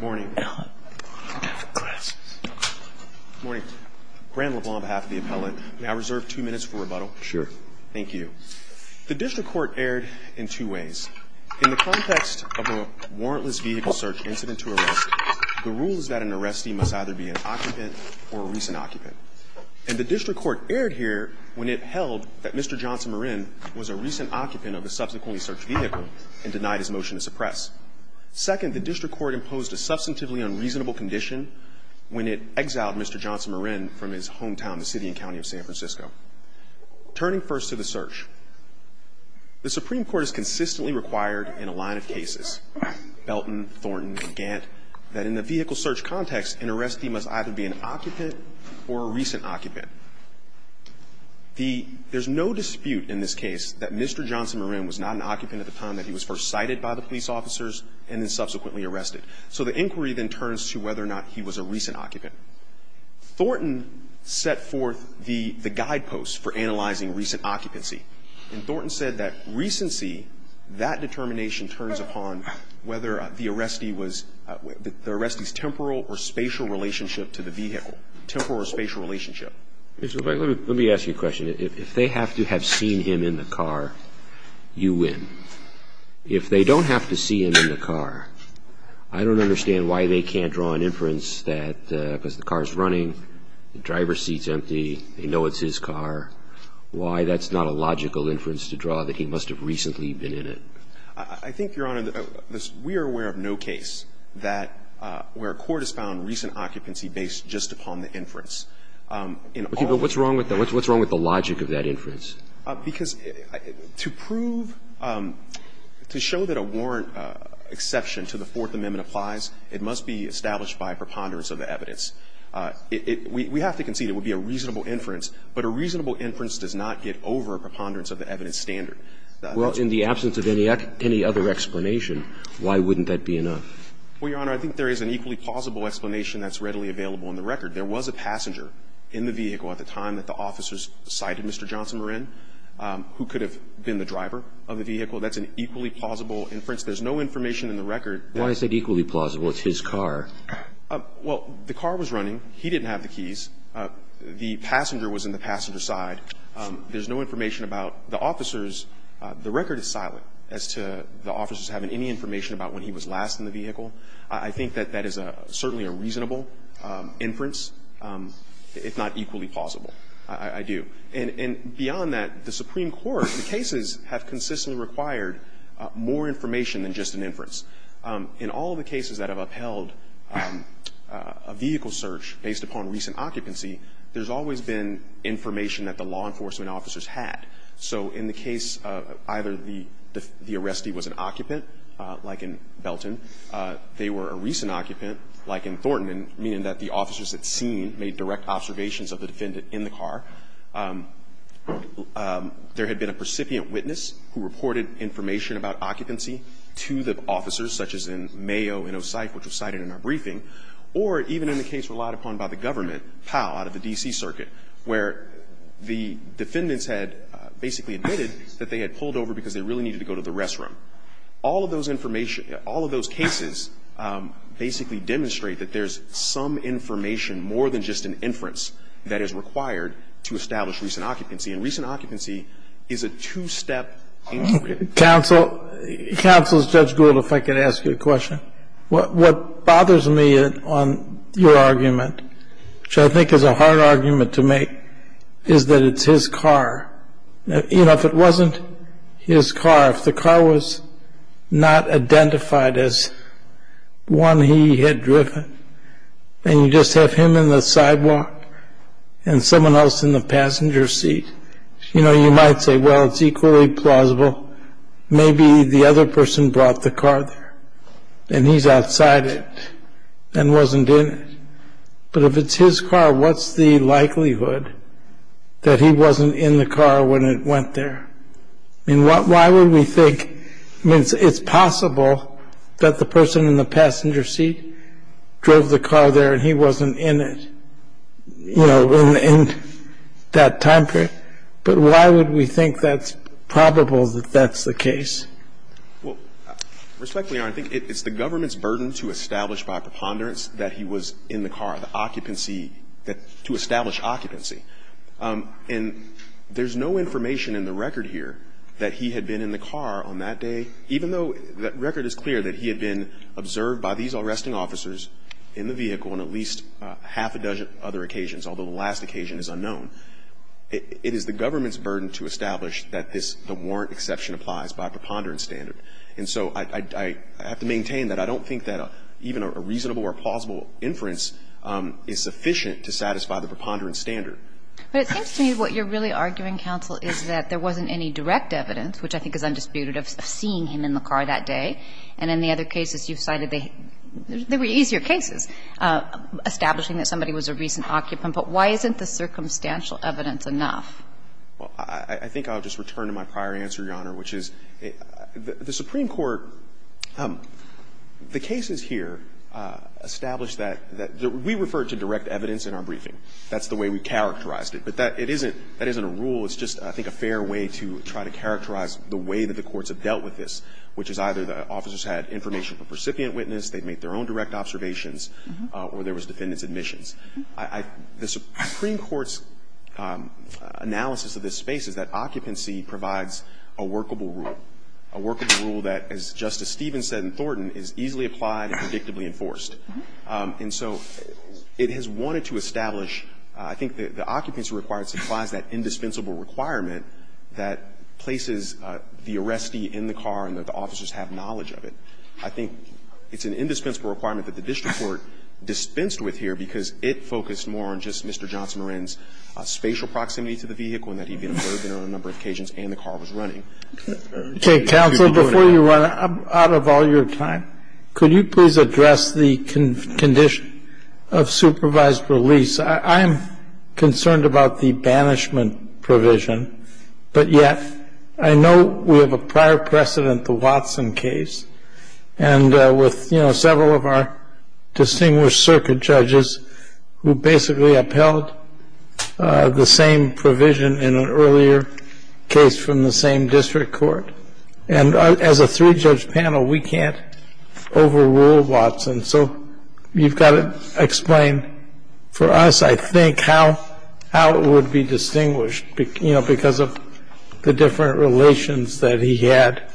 Morning. Morning. Grant LeBlanc on behalf of the appellant. May I reserve two minutes for rebuttal? Sure. Thank you. The district court erred in two ways. In the context of a warrantless vehicle search incident to arrest, the rule is that an arrestee must either be an occupant or a recent occupant. And the district court erred here when it held that Mr. Johnsonmarin was a recent occupant of a subsequently searched vehicle and denied his motion to suppress. Second, the district court imposed a substantively unreasonable condition when it exiled Mr. Johnsonmarin from his hometown, the city and county of San Francisco. Turning first to the search, the Supreme Court has consistently required in a line of cases, Belton, Thornton, and Gant, that in the vehicle search context, an arrestee must either be an occupant or a recent occupant. There's no dispute in this case that Mr. Johnsonmarin was not an occupant at the time that he was first sighted by the police officers and then subsequently arrested. So the inquiry then turns to whether or not he was a recent occupant. Thornton set forth the guideposts for analyzing recent occupancy. And Thornton said that recency, that determination turns upon whether the arrestee was the arrestee's temporal or spatial relationship to the vehicle, temporal or spatial relationship. Mr. LeBlanc, let me ask you a question. If they have to have seen him in the car, you win. If they don't have to see him in the car, I don't understand why they can't draw an inference that because the car is running, the driver's seat is empty, they know it's his car. Why that's not a logical inference to draw that he must have recently been in it. I think, Your Honor, we are aware of no case that where a court has found recent occupancy based just upon the inference. But what's wrong with that? What's wrong with the logic of that inference? Because to prove, to show that a warrant exception to the Fourth Amendment applies, it must be established by preponderance of the evidence. We have to concede it would be a reasonable inference, but a reasonable inference does not get over a preponderance of the evidence standard. Well, in the absence of any other explanation, why wouldn't that be enough? Well, Your Honor, I think there is an equally plausible explanation that's readily available on the record. There was a passenger in the vehicle at the time that the officers cited Mr. Johnson Marin, who could have been the driver of the vehicle. That's an equally plausible inference. There's no information in the record that he was in the vehicle. Why is it equally plausible? It's his car. Well, the car was running. He didn't have the keys. The passenger was in the passenger side. There's no information about the officers. The record is silent as to the officers having any information about when he was last in the vehicle. I think that that is certainly a reasonable inference, if not equally plausible. I do. And beyond that, the Supreme Court, the cases have consistently required more information than just an inference. In all of the cases that have upheld a vehicle search based upon recent occupancy, there's always been information that the law enforcement officers had. So in the case of either the arrestee was an occupant, like in Belton, they were a recent occupant, like in Thornton, meaning that the officers had seen, made direct observations of the defendant in the car. There had been a precipient witness who reported information about occupancy to the officers, such as in Mayo and Osyph, which was cited in our briefing, or even in the case relied upon by the government, Powell, out of the D.C. Circuit, where the defendants had basically admitted that they had pulled over because they really needed to go to the restroom. All of those information, all of those cases basically demonstrate that there's some information more than just an inference that is required to establish recent occupancy. And recent occupancy is a two-step inquiry. Counsel, Counsel, Judge Gould, if I could ask you a question. What bothers me on your argument, which I think is a hard argument to make, is that it's his car. You know, if it wasn't his car, if the car was not identified as one he had driven, and you just have him in the sidewalk and someone else in the passenger seat, you know, you might say, well, it's equally plausible. Maybe the other person brought the car there, and he's outside it and wasn't in it. But if it's his car, what's the likelihood that he wasn't in the car when it went there? I mean, why would we think – I mean, it's possible that the person in the passenger seat drove the car there and he wasn't in it, you know, in that time period. But why would we think that's probable that that's the case? Well, Respectfully, Your Honor, I think it's the government's burden to establish by preponderance that he was in the car, the occupancy, to establish occupancy. And there's no information in the record here that he had been in the car on that day, even though the record is clear that he had been observed by these arresting officers in the vehicle on at least half a dozen other occasions, although the last occasion is unknown. It is the government's burden to establish that this – the warrant exception applies by a preponderance standard. And so I have to maintain that I don't think that even a reasonable or plausible inference is sufficient to satisfy the preponderance standard. But it seems to me what you're really arguing, counsel, is that there wasn't any direct evidence, which I think is undisputed, of seeing him in the car that day. And in the other cases you've cited, they were easier cases, establishing that somebody was a recent occupant, but why isn't the circumstantial evidence enough? Well, I think I'll just return to my prior answer, Your Honor, which is the Supreme Court – the cases here establish that we refer to direct evidence in our briefing. That's the way we characterized it. But that isn't a rule. It's just, I think, a fair way to try to characterize the way that the courts have dealt with this, which is either the officers had information from a recipient witness, they'd made their own direct observations, or there was defendant's admissions. The Supreme Court's analysis of this space is that occupancy provides a workable rule, a workable rule that, as Justice Stevens said in Thornton, is easily applied and predictably enforced. And so it has wanted to establish, I think the occupancy required supplies that indispensable requirement that places the arrestee in the car and that the officers have knowledge of it. I think it's an indispensable requirement that the district court dispensed with here because it focused more on just Mr. Johnson Moran's spatial proximity to the vehicle and that he'd been observed in it on a number of occasions and the car was running. Okay. Counsel, before you run out of all your time, could you please address the condition of supervised release? I'm concerned about the banishment provision, but yet I know we have a prior precedent the Watson case and with, you know, several of our distinguished circuit judges who basically upheld the same provision in an earlier case from the same district court. And as a three-judge panel, we can't overrule Watson. So you've got to explain for us, I think, how it would be distinguished, you know, because of the different relations that he had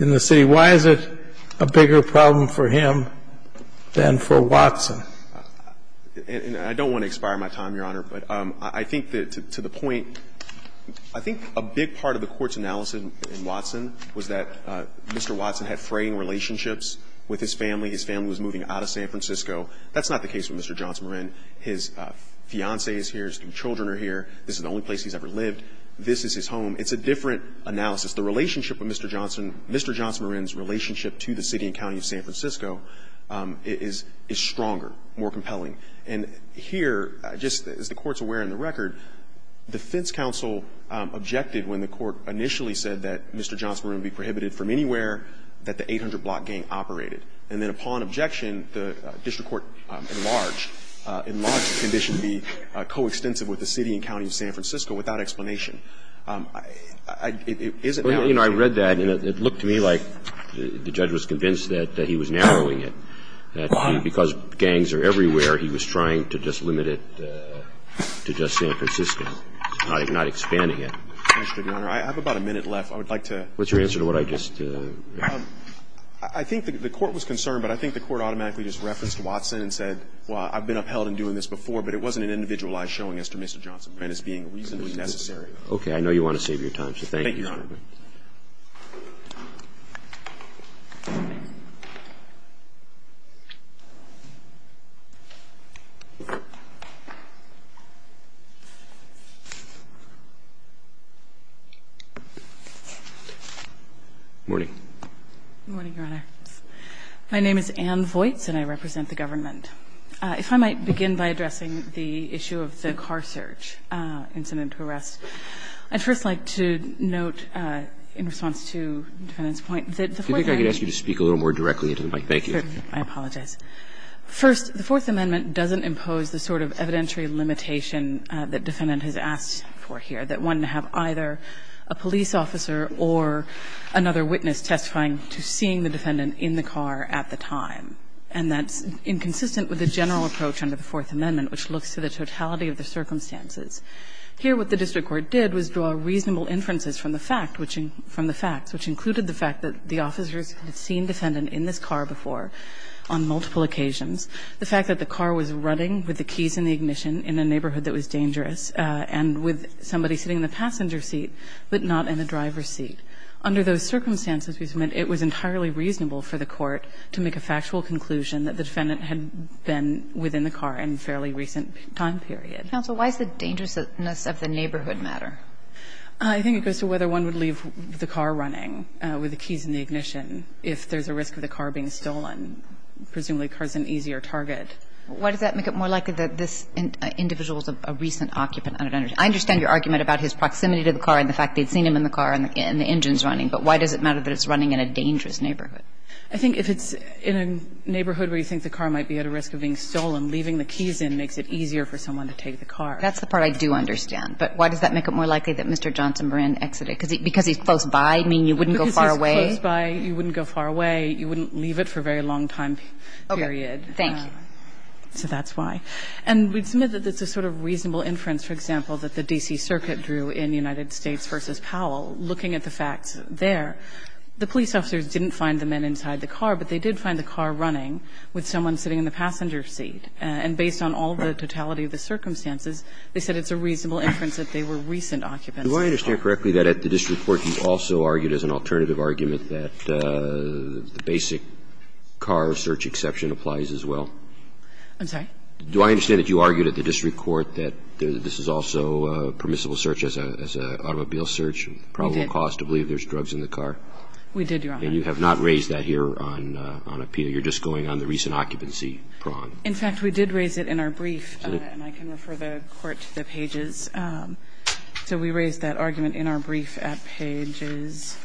in the city. Why is it a bigger problem for him than for Watson? I don't want to expire my time, Your Honor, but I think to the point, I think a big part of the court's analysis in Watson was that Mr. Watson had fraying relationships with his family. His family was moving out of San Francisco. That's not the case with Mr. Johnson Moran. His fiancée is here. His children are here. This is the only place he's ever lived. This is his home. It's a different analysis. The relationship with Mr. Johnson, Mr. Johnson Moran's relationship to the city and county of San Francisco is stronger, more compelling. And here, just as the Court's aware in the record, defense counsel objected when the Court initially said that Mr. Johnson Moran would be prohibited from anywhere that the 800-block gang operated. And then upon objection, the district court enlarged the condition to be coextensive with the city and county of San Francisco without explanation. I read that, and it looked to me like the judge was convinced that he was narrowing it, that because gangs are everywhere, he was trying to just limit it to just San Francisco, not expanding it. I have about a minute left. What's your answer to what I just read? I think the Court was concerned, but I think the Court automatically just referenced Watson and said, well, I've been upheld in doing this before, but it wasn't an individualized showing as to Mr. Johnson Moran as being reasonably necessary. Okay. I know you want to save your time, so thank you, Your Honor. Thank you, Your Honor. Good morning, Your Honor. My name is Ann Voights, and I represent the government. If I might begin by addressing the issue of the car search incident to arrest. I'd first like to note, in response to the defendant's point, that the Fourth Amendment doesn't impose the sort of evidentiary limitation that the defendant has asked for here, that one have either a police officer or another witness testifying to seeing the defendant in the car at the time, and that's inconsistent with the general approach under the Fourth Amendment, which looks to the totality of the circumstances. Here, what the district court did was draw reasonable inferences from the fact, which included the fact that the officers had seen defendant in this car before on multiple occasions, the fact that the car was running with the keys in the ignition in a neighborhood that was dangerous, and with somebody sitting in the passenger seat, but not in the driver's seat. Under those circumstances, we submit it was entirely reasonable for the court to make a factual conclusion that the defendant had been within the car in a fairly recent time period. Counsel, why does the dangerousness of the neighborhood matter? I think it goes to whether one would leave the car running with the keys in the ignition if there's a risk of the car being stolen. Presumably, the car's an easier target. Why does that make it more likely that this individual's a recent occupant? I understand your argument about his proximity to the car and the fact they'd seen him in the car and the engine's running, but why does it matter that it's running in a dangerous neighborhood? I think if it's in a neighborhood where you think the car might be at a risk of being stolen, leaving the keys in makes it easier for someone to take the car. That's the part I do understand. But why does that make it more likely that Mr. Johnson Moran exited? Because he's close by, meaning you wouldn't go far away? Because he's close by, you wouldn't go far away. You wouldn't leave it for a very long time period. Okay. Thank you. So that's why. And we submit that it's a sort of reasonable inference, for example, that the D.C. Circuit drew in United States v. Powell. Looking at the facts there, the police officers didn't find the men inside the car, but they did find the car running with someone sitting in the passenger seat. And based on all the totality of the circumstances, they said it's a reasonable inference that they were recent occupants. Do I understand correctly that at the district court you also argued as an alternative argument that the basic car search exception applies as well? I'm sorry? Do I understand that you argued at the district court that this is also permissible search as an automobile search, probable cause to believe there's drugs in the car? We did, Your Honor. And you have not raised that here on appeal. You're just going on the recent occupancy prong. In fact, we did raise it in our brief, and I can refer the Court to the pages. So we raised that argument in our brief at pages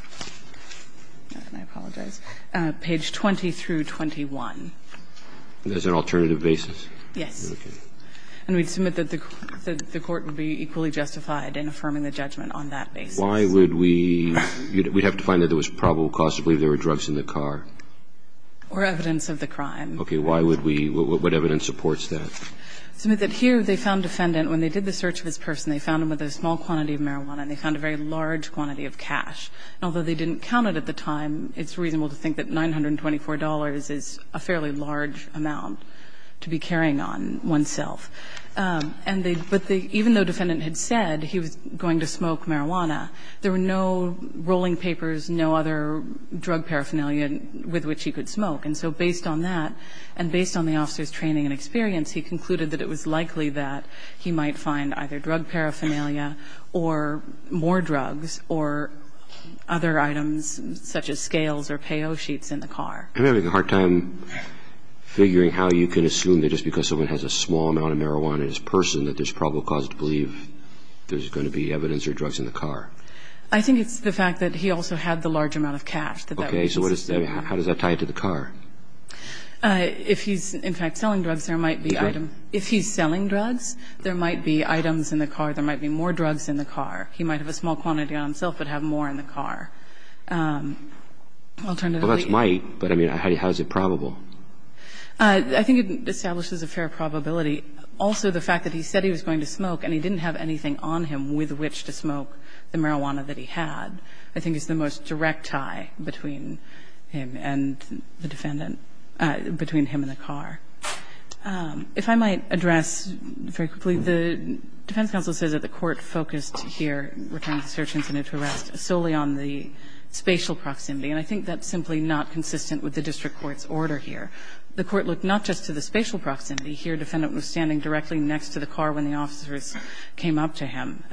20 through 21. As an alternative basis? Yes. Okay. And we'd submit that the Court would be equally justified in affirming the judgment on that basis. Why would we? We'd have to find that there was probable cause to believe there were drugs in the car? Or evidence of the crime. Okay. Why would we? What evidence supports that? Submit that here they found defendant, when they did the search of this person, they found him with a small quantity of marijuana, and they found a very large quantity of cash. And although they didn't count it at the time, it's reasonable to think that $924 is a fairly large amount to be carrying on oneself. And they – but the – even though defendant had said he was going to smoke marijuana, there were no rolling papers, no other drug paraphernalia with which he could smoke. And so based on that, and based on the officer's training and experience, he concluded that it was likely that he might find either drug paraphernalia or more drugs or other items such as scales or payo sheets in the car. I'm having a hard time figuring how you can assume that just because someone has a small amount of marijuana in his person that there's probable cause to believe there's going to be evidence or drugs in the car. I think it's the fact that he also had the large amount of cash that that was assumed. Okay. So what is – how does that tie into the car? If he's, in fact, selling drugs, there might be item – if he's selling drugs, there might be items in the car. There might be more drugs in the car. He might have a small quantity on himself but have more in the car. Alternatively – Well, that's might, but, I mean, how is it probable? I think it establishes a fair probability. Also, the fact that he said he was going to smoke and he didn't have anything on him with which to smoke the marijuana that he had, I think is the most direct tie between him and the defendant – between him and the car. If I might address very quickly, the defense counsel says that the court focused here, referring to the search incident to arrest, solely on the spatial proximity. And I think that's simply not consistent with the district court's order here. The court looked not just to the spatial proximity. Here, defendant was standing directly next to the car when the officers came up to him.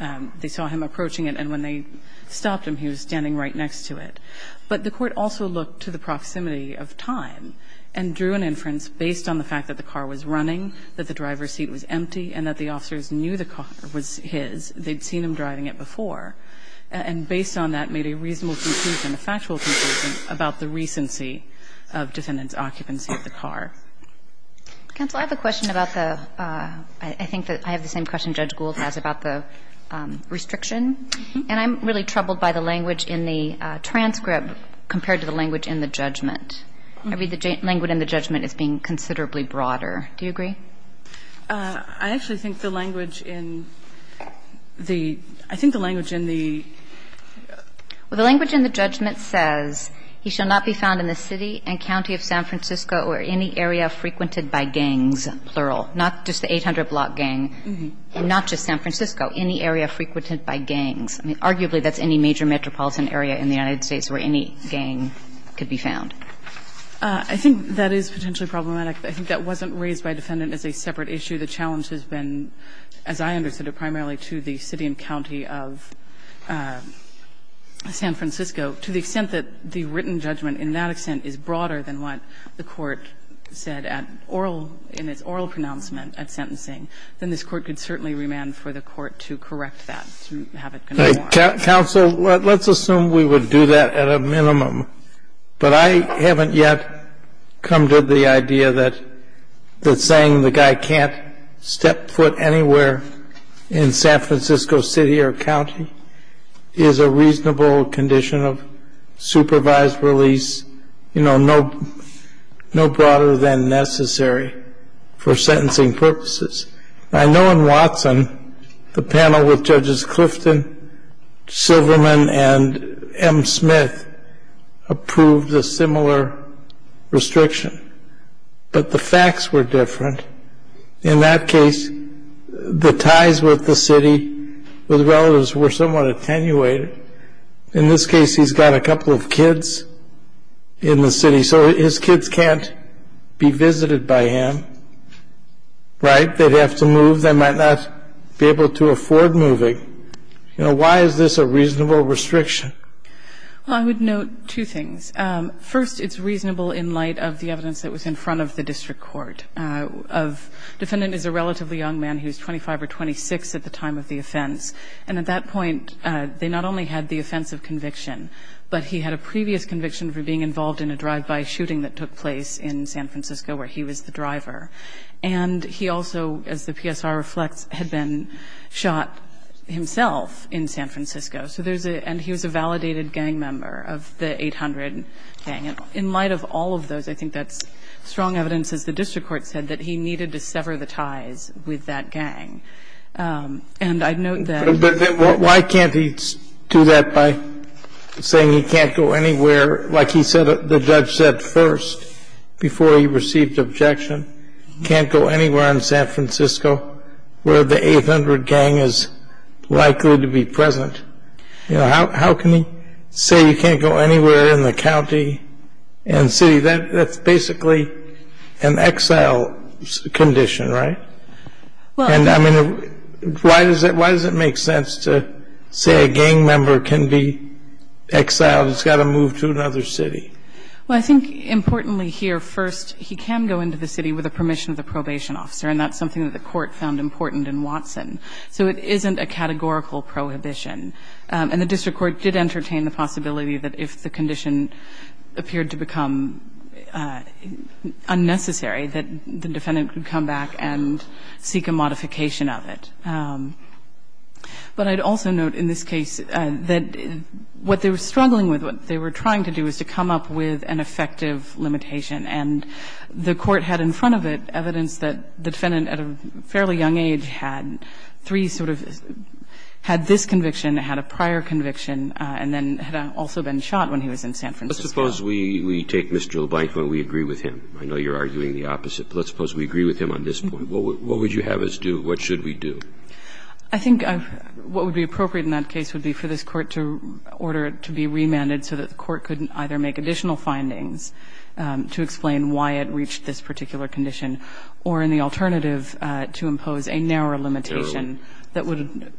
They saw him approaching it, and when they stopped him, he was standing right next to it. But the court also looked to the proximity of time and drew an inference based on the fact that the car was running, that the driver's seat was empty, and that the officers knew the car was his. They'd seen him driving it before. And based on that, made a reasonable conclusion, a factual conclusion, about the recency of defendant's occupancy of the car. Counsel, I have a question about the – I think that I have the same question Judge Gould has about the restriction. And I'm really troubled by the language in the transcript compared to the language in the judgment. I read the language in the judgment as being considerably broader. Do you agree? I actually think the language in the – I think the language in the – Well, the language in the judgment says, He shall not be found in the city and county of San Francisco or any area frequented by gangs, plural. Not just the 800 block gang. Not just San Francisco. Any area frequented by gangs. I mean, arguably, that's any major metropolitan area in the United States where any gang could be found. I think that is potentially problematic. I think that wasn't raised by a defendant as a separate issue. The challenge has been, as I understood it primarily, to the city and county of San Francisco. To the extent that the written judgment in that extent is broader than what the Court said at oral – in its oral pronouncement at sentencing, then this Court could certainly remand for the Court to correct that, to have it be more. Counsel, let's assume we would do that at a minimum. But I haven't yet come to the idea that saying the guy can't step foot anywhere in San Francisco city or county is a reasonable condition of supervised release. You know, no broader than necessary for sentencing purposes. I know in Watson, the panel with Judges Clifton, Silverman, and M. Smith approved a similar restriction. But the facts were different. In that case, the ties with the city, with relatives, were somewhat attenuated. In this case, he's got a couple of kids in the city. So his kids can't be visited by him. Right? They'd have to move. They might not be able to afford moving. You know, why is this a reasonable restriction? Well, I would note two things. First, it's reasonable in light of the evidence that was in front of the district court. A defendant is a relatively young man who's 25 or 26 at the time of the offense. And at that point, they not only had the offense of conviction, but he had a previous conviction for being involved in a drive-by shooting that took place in San Francisco where he was the driver. And he also, as the PSR reflects, had been shot himself in San Francisco. So there's a – and he was a validated gang member of the 800 gang. And in light of all of those, I think that's strong evidence, as the district court said, that he needed to sever the ties with that gang. And I'd note that – But then why can't he do that by saying he can't go anywhere? Like he said – the judge said first before he received objection, can't go anywhere in San Francisco where the 800 gang is likely to be present. You know, how can he say you can't go anywhere in the county and city? That's basically an exile condition, right? Well – And I mean, why does it make sense to say a gang member can be exiled? It's got to move to another city. Well, I think importantly here, first, he can go into the city with the permission of the probation officer. And that's something that the court found important in Watson. So it isn't a categorical prohibition. And the district court did entertain the possibility that if the condition appeared to become unnecessary, that the defendant could come back and seek a modification of it. But I'd also note in this case that what they were struggling with, what they were trying to do, is to come up with an effective limitation. And the court had in front of it evidence that the defendant at a fairly young age had three sort of – had this conviction, had a prior conviction, and then had also been shot when he was in San Francisco. Let's suppose we take Mr. LeBlanc when we agree with him. I know you're arguing the opposite. But let's suppose we agree with him on this point. What would you have us do? What should we do? I think what would be appropriate in that case would be for this court to order it to be remanded so that the court couldn't either make additional findings to explain why it reached this particular condition or any alternative to impose a narrower limitation that would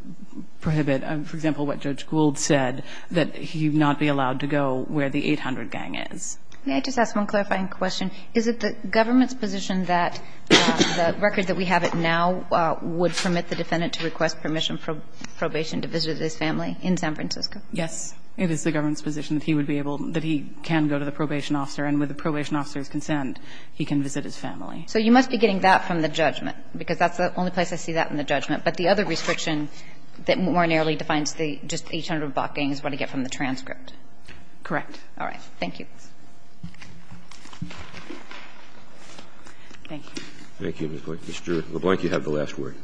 prohibit, for example, what Judge Gould said, that he not be allowed to go where the 800 gang is. May I just ask one clarifying question? Is it the government's position that the record that we have it now would permit the defendant to request permission for probation to visit his family in San Francisco? Yes. It is the government's position that he would be able – that he can go to the probation officer, and with the probation officer's consent, he can visit his family. So you must be getting that from the judgment, because that's the only place I see that in the judgment. But the other restriction that more narrowly defines the – just the 800 block gang is what I get from the transcript. Correct. All right. Thank you. Thank you. Thank you, Ms. Blank. Mr. LeBlanc, you have the last word.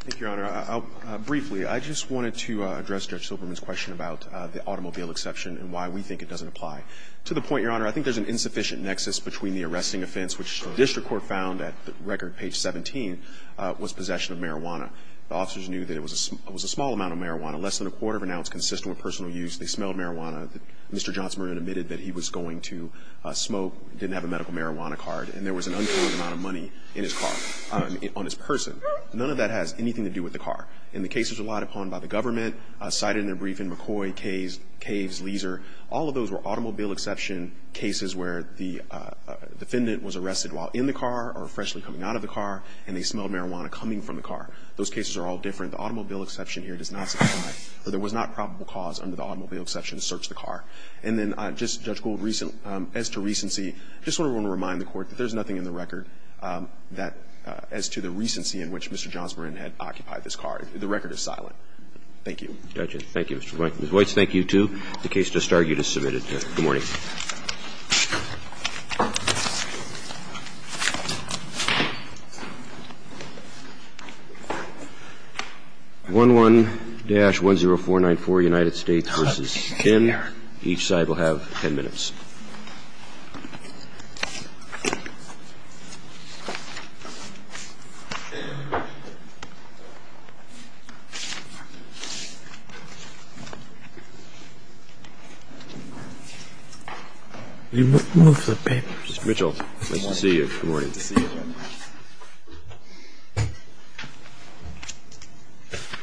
Thank you, Your Honor. Briefly, I just wanted to address Judge Silberman's question about the automobile exception and why we think it doesn't apply. To the point, Your Honor, I think there's an insufficient nexus between the arresting offense, which the district court found at record page 17, was possession of marijuana. The officers knew that it was a small amount of marijuana, less than a quarter They smelled marijuana. Mr. Johnson admitted that he was going to the jail. He was going to smoke, didn't have a medical marijuana card, and there was an uncountable amount of money in his car, on his person. None of that has anything to do with the car. And the case was relied upon by the government, cited in a brief in McCoy, Caves, Leaser. All of those were automobile exception cases where the defendant was arrested while in the car or freshly coming out of the car, and they smelled marijuana coming from the car. Those cases are all different. The automobile exception here does not supply, or there was not probable cause under the automobile exception to search the car. And then, just, Judge Gould, as to recency, I just want to remind the Court that there's nothing in the record that, as to the recency in which Mr. Johnson had occupied this car. The record is silent. Thank you. Roberts. Thank you, Mr. Blankenship. Ms. Weitz, thank you, too. The case just argued is submitted. Good morning. 11-10494, United States v. Kim. Each side will have 10 minutes. Move the papers. Mr. Mitchell, nice to see you. Good morning. Nice to see you.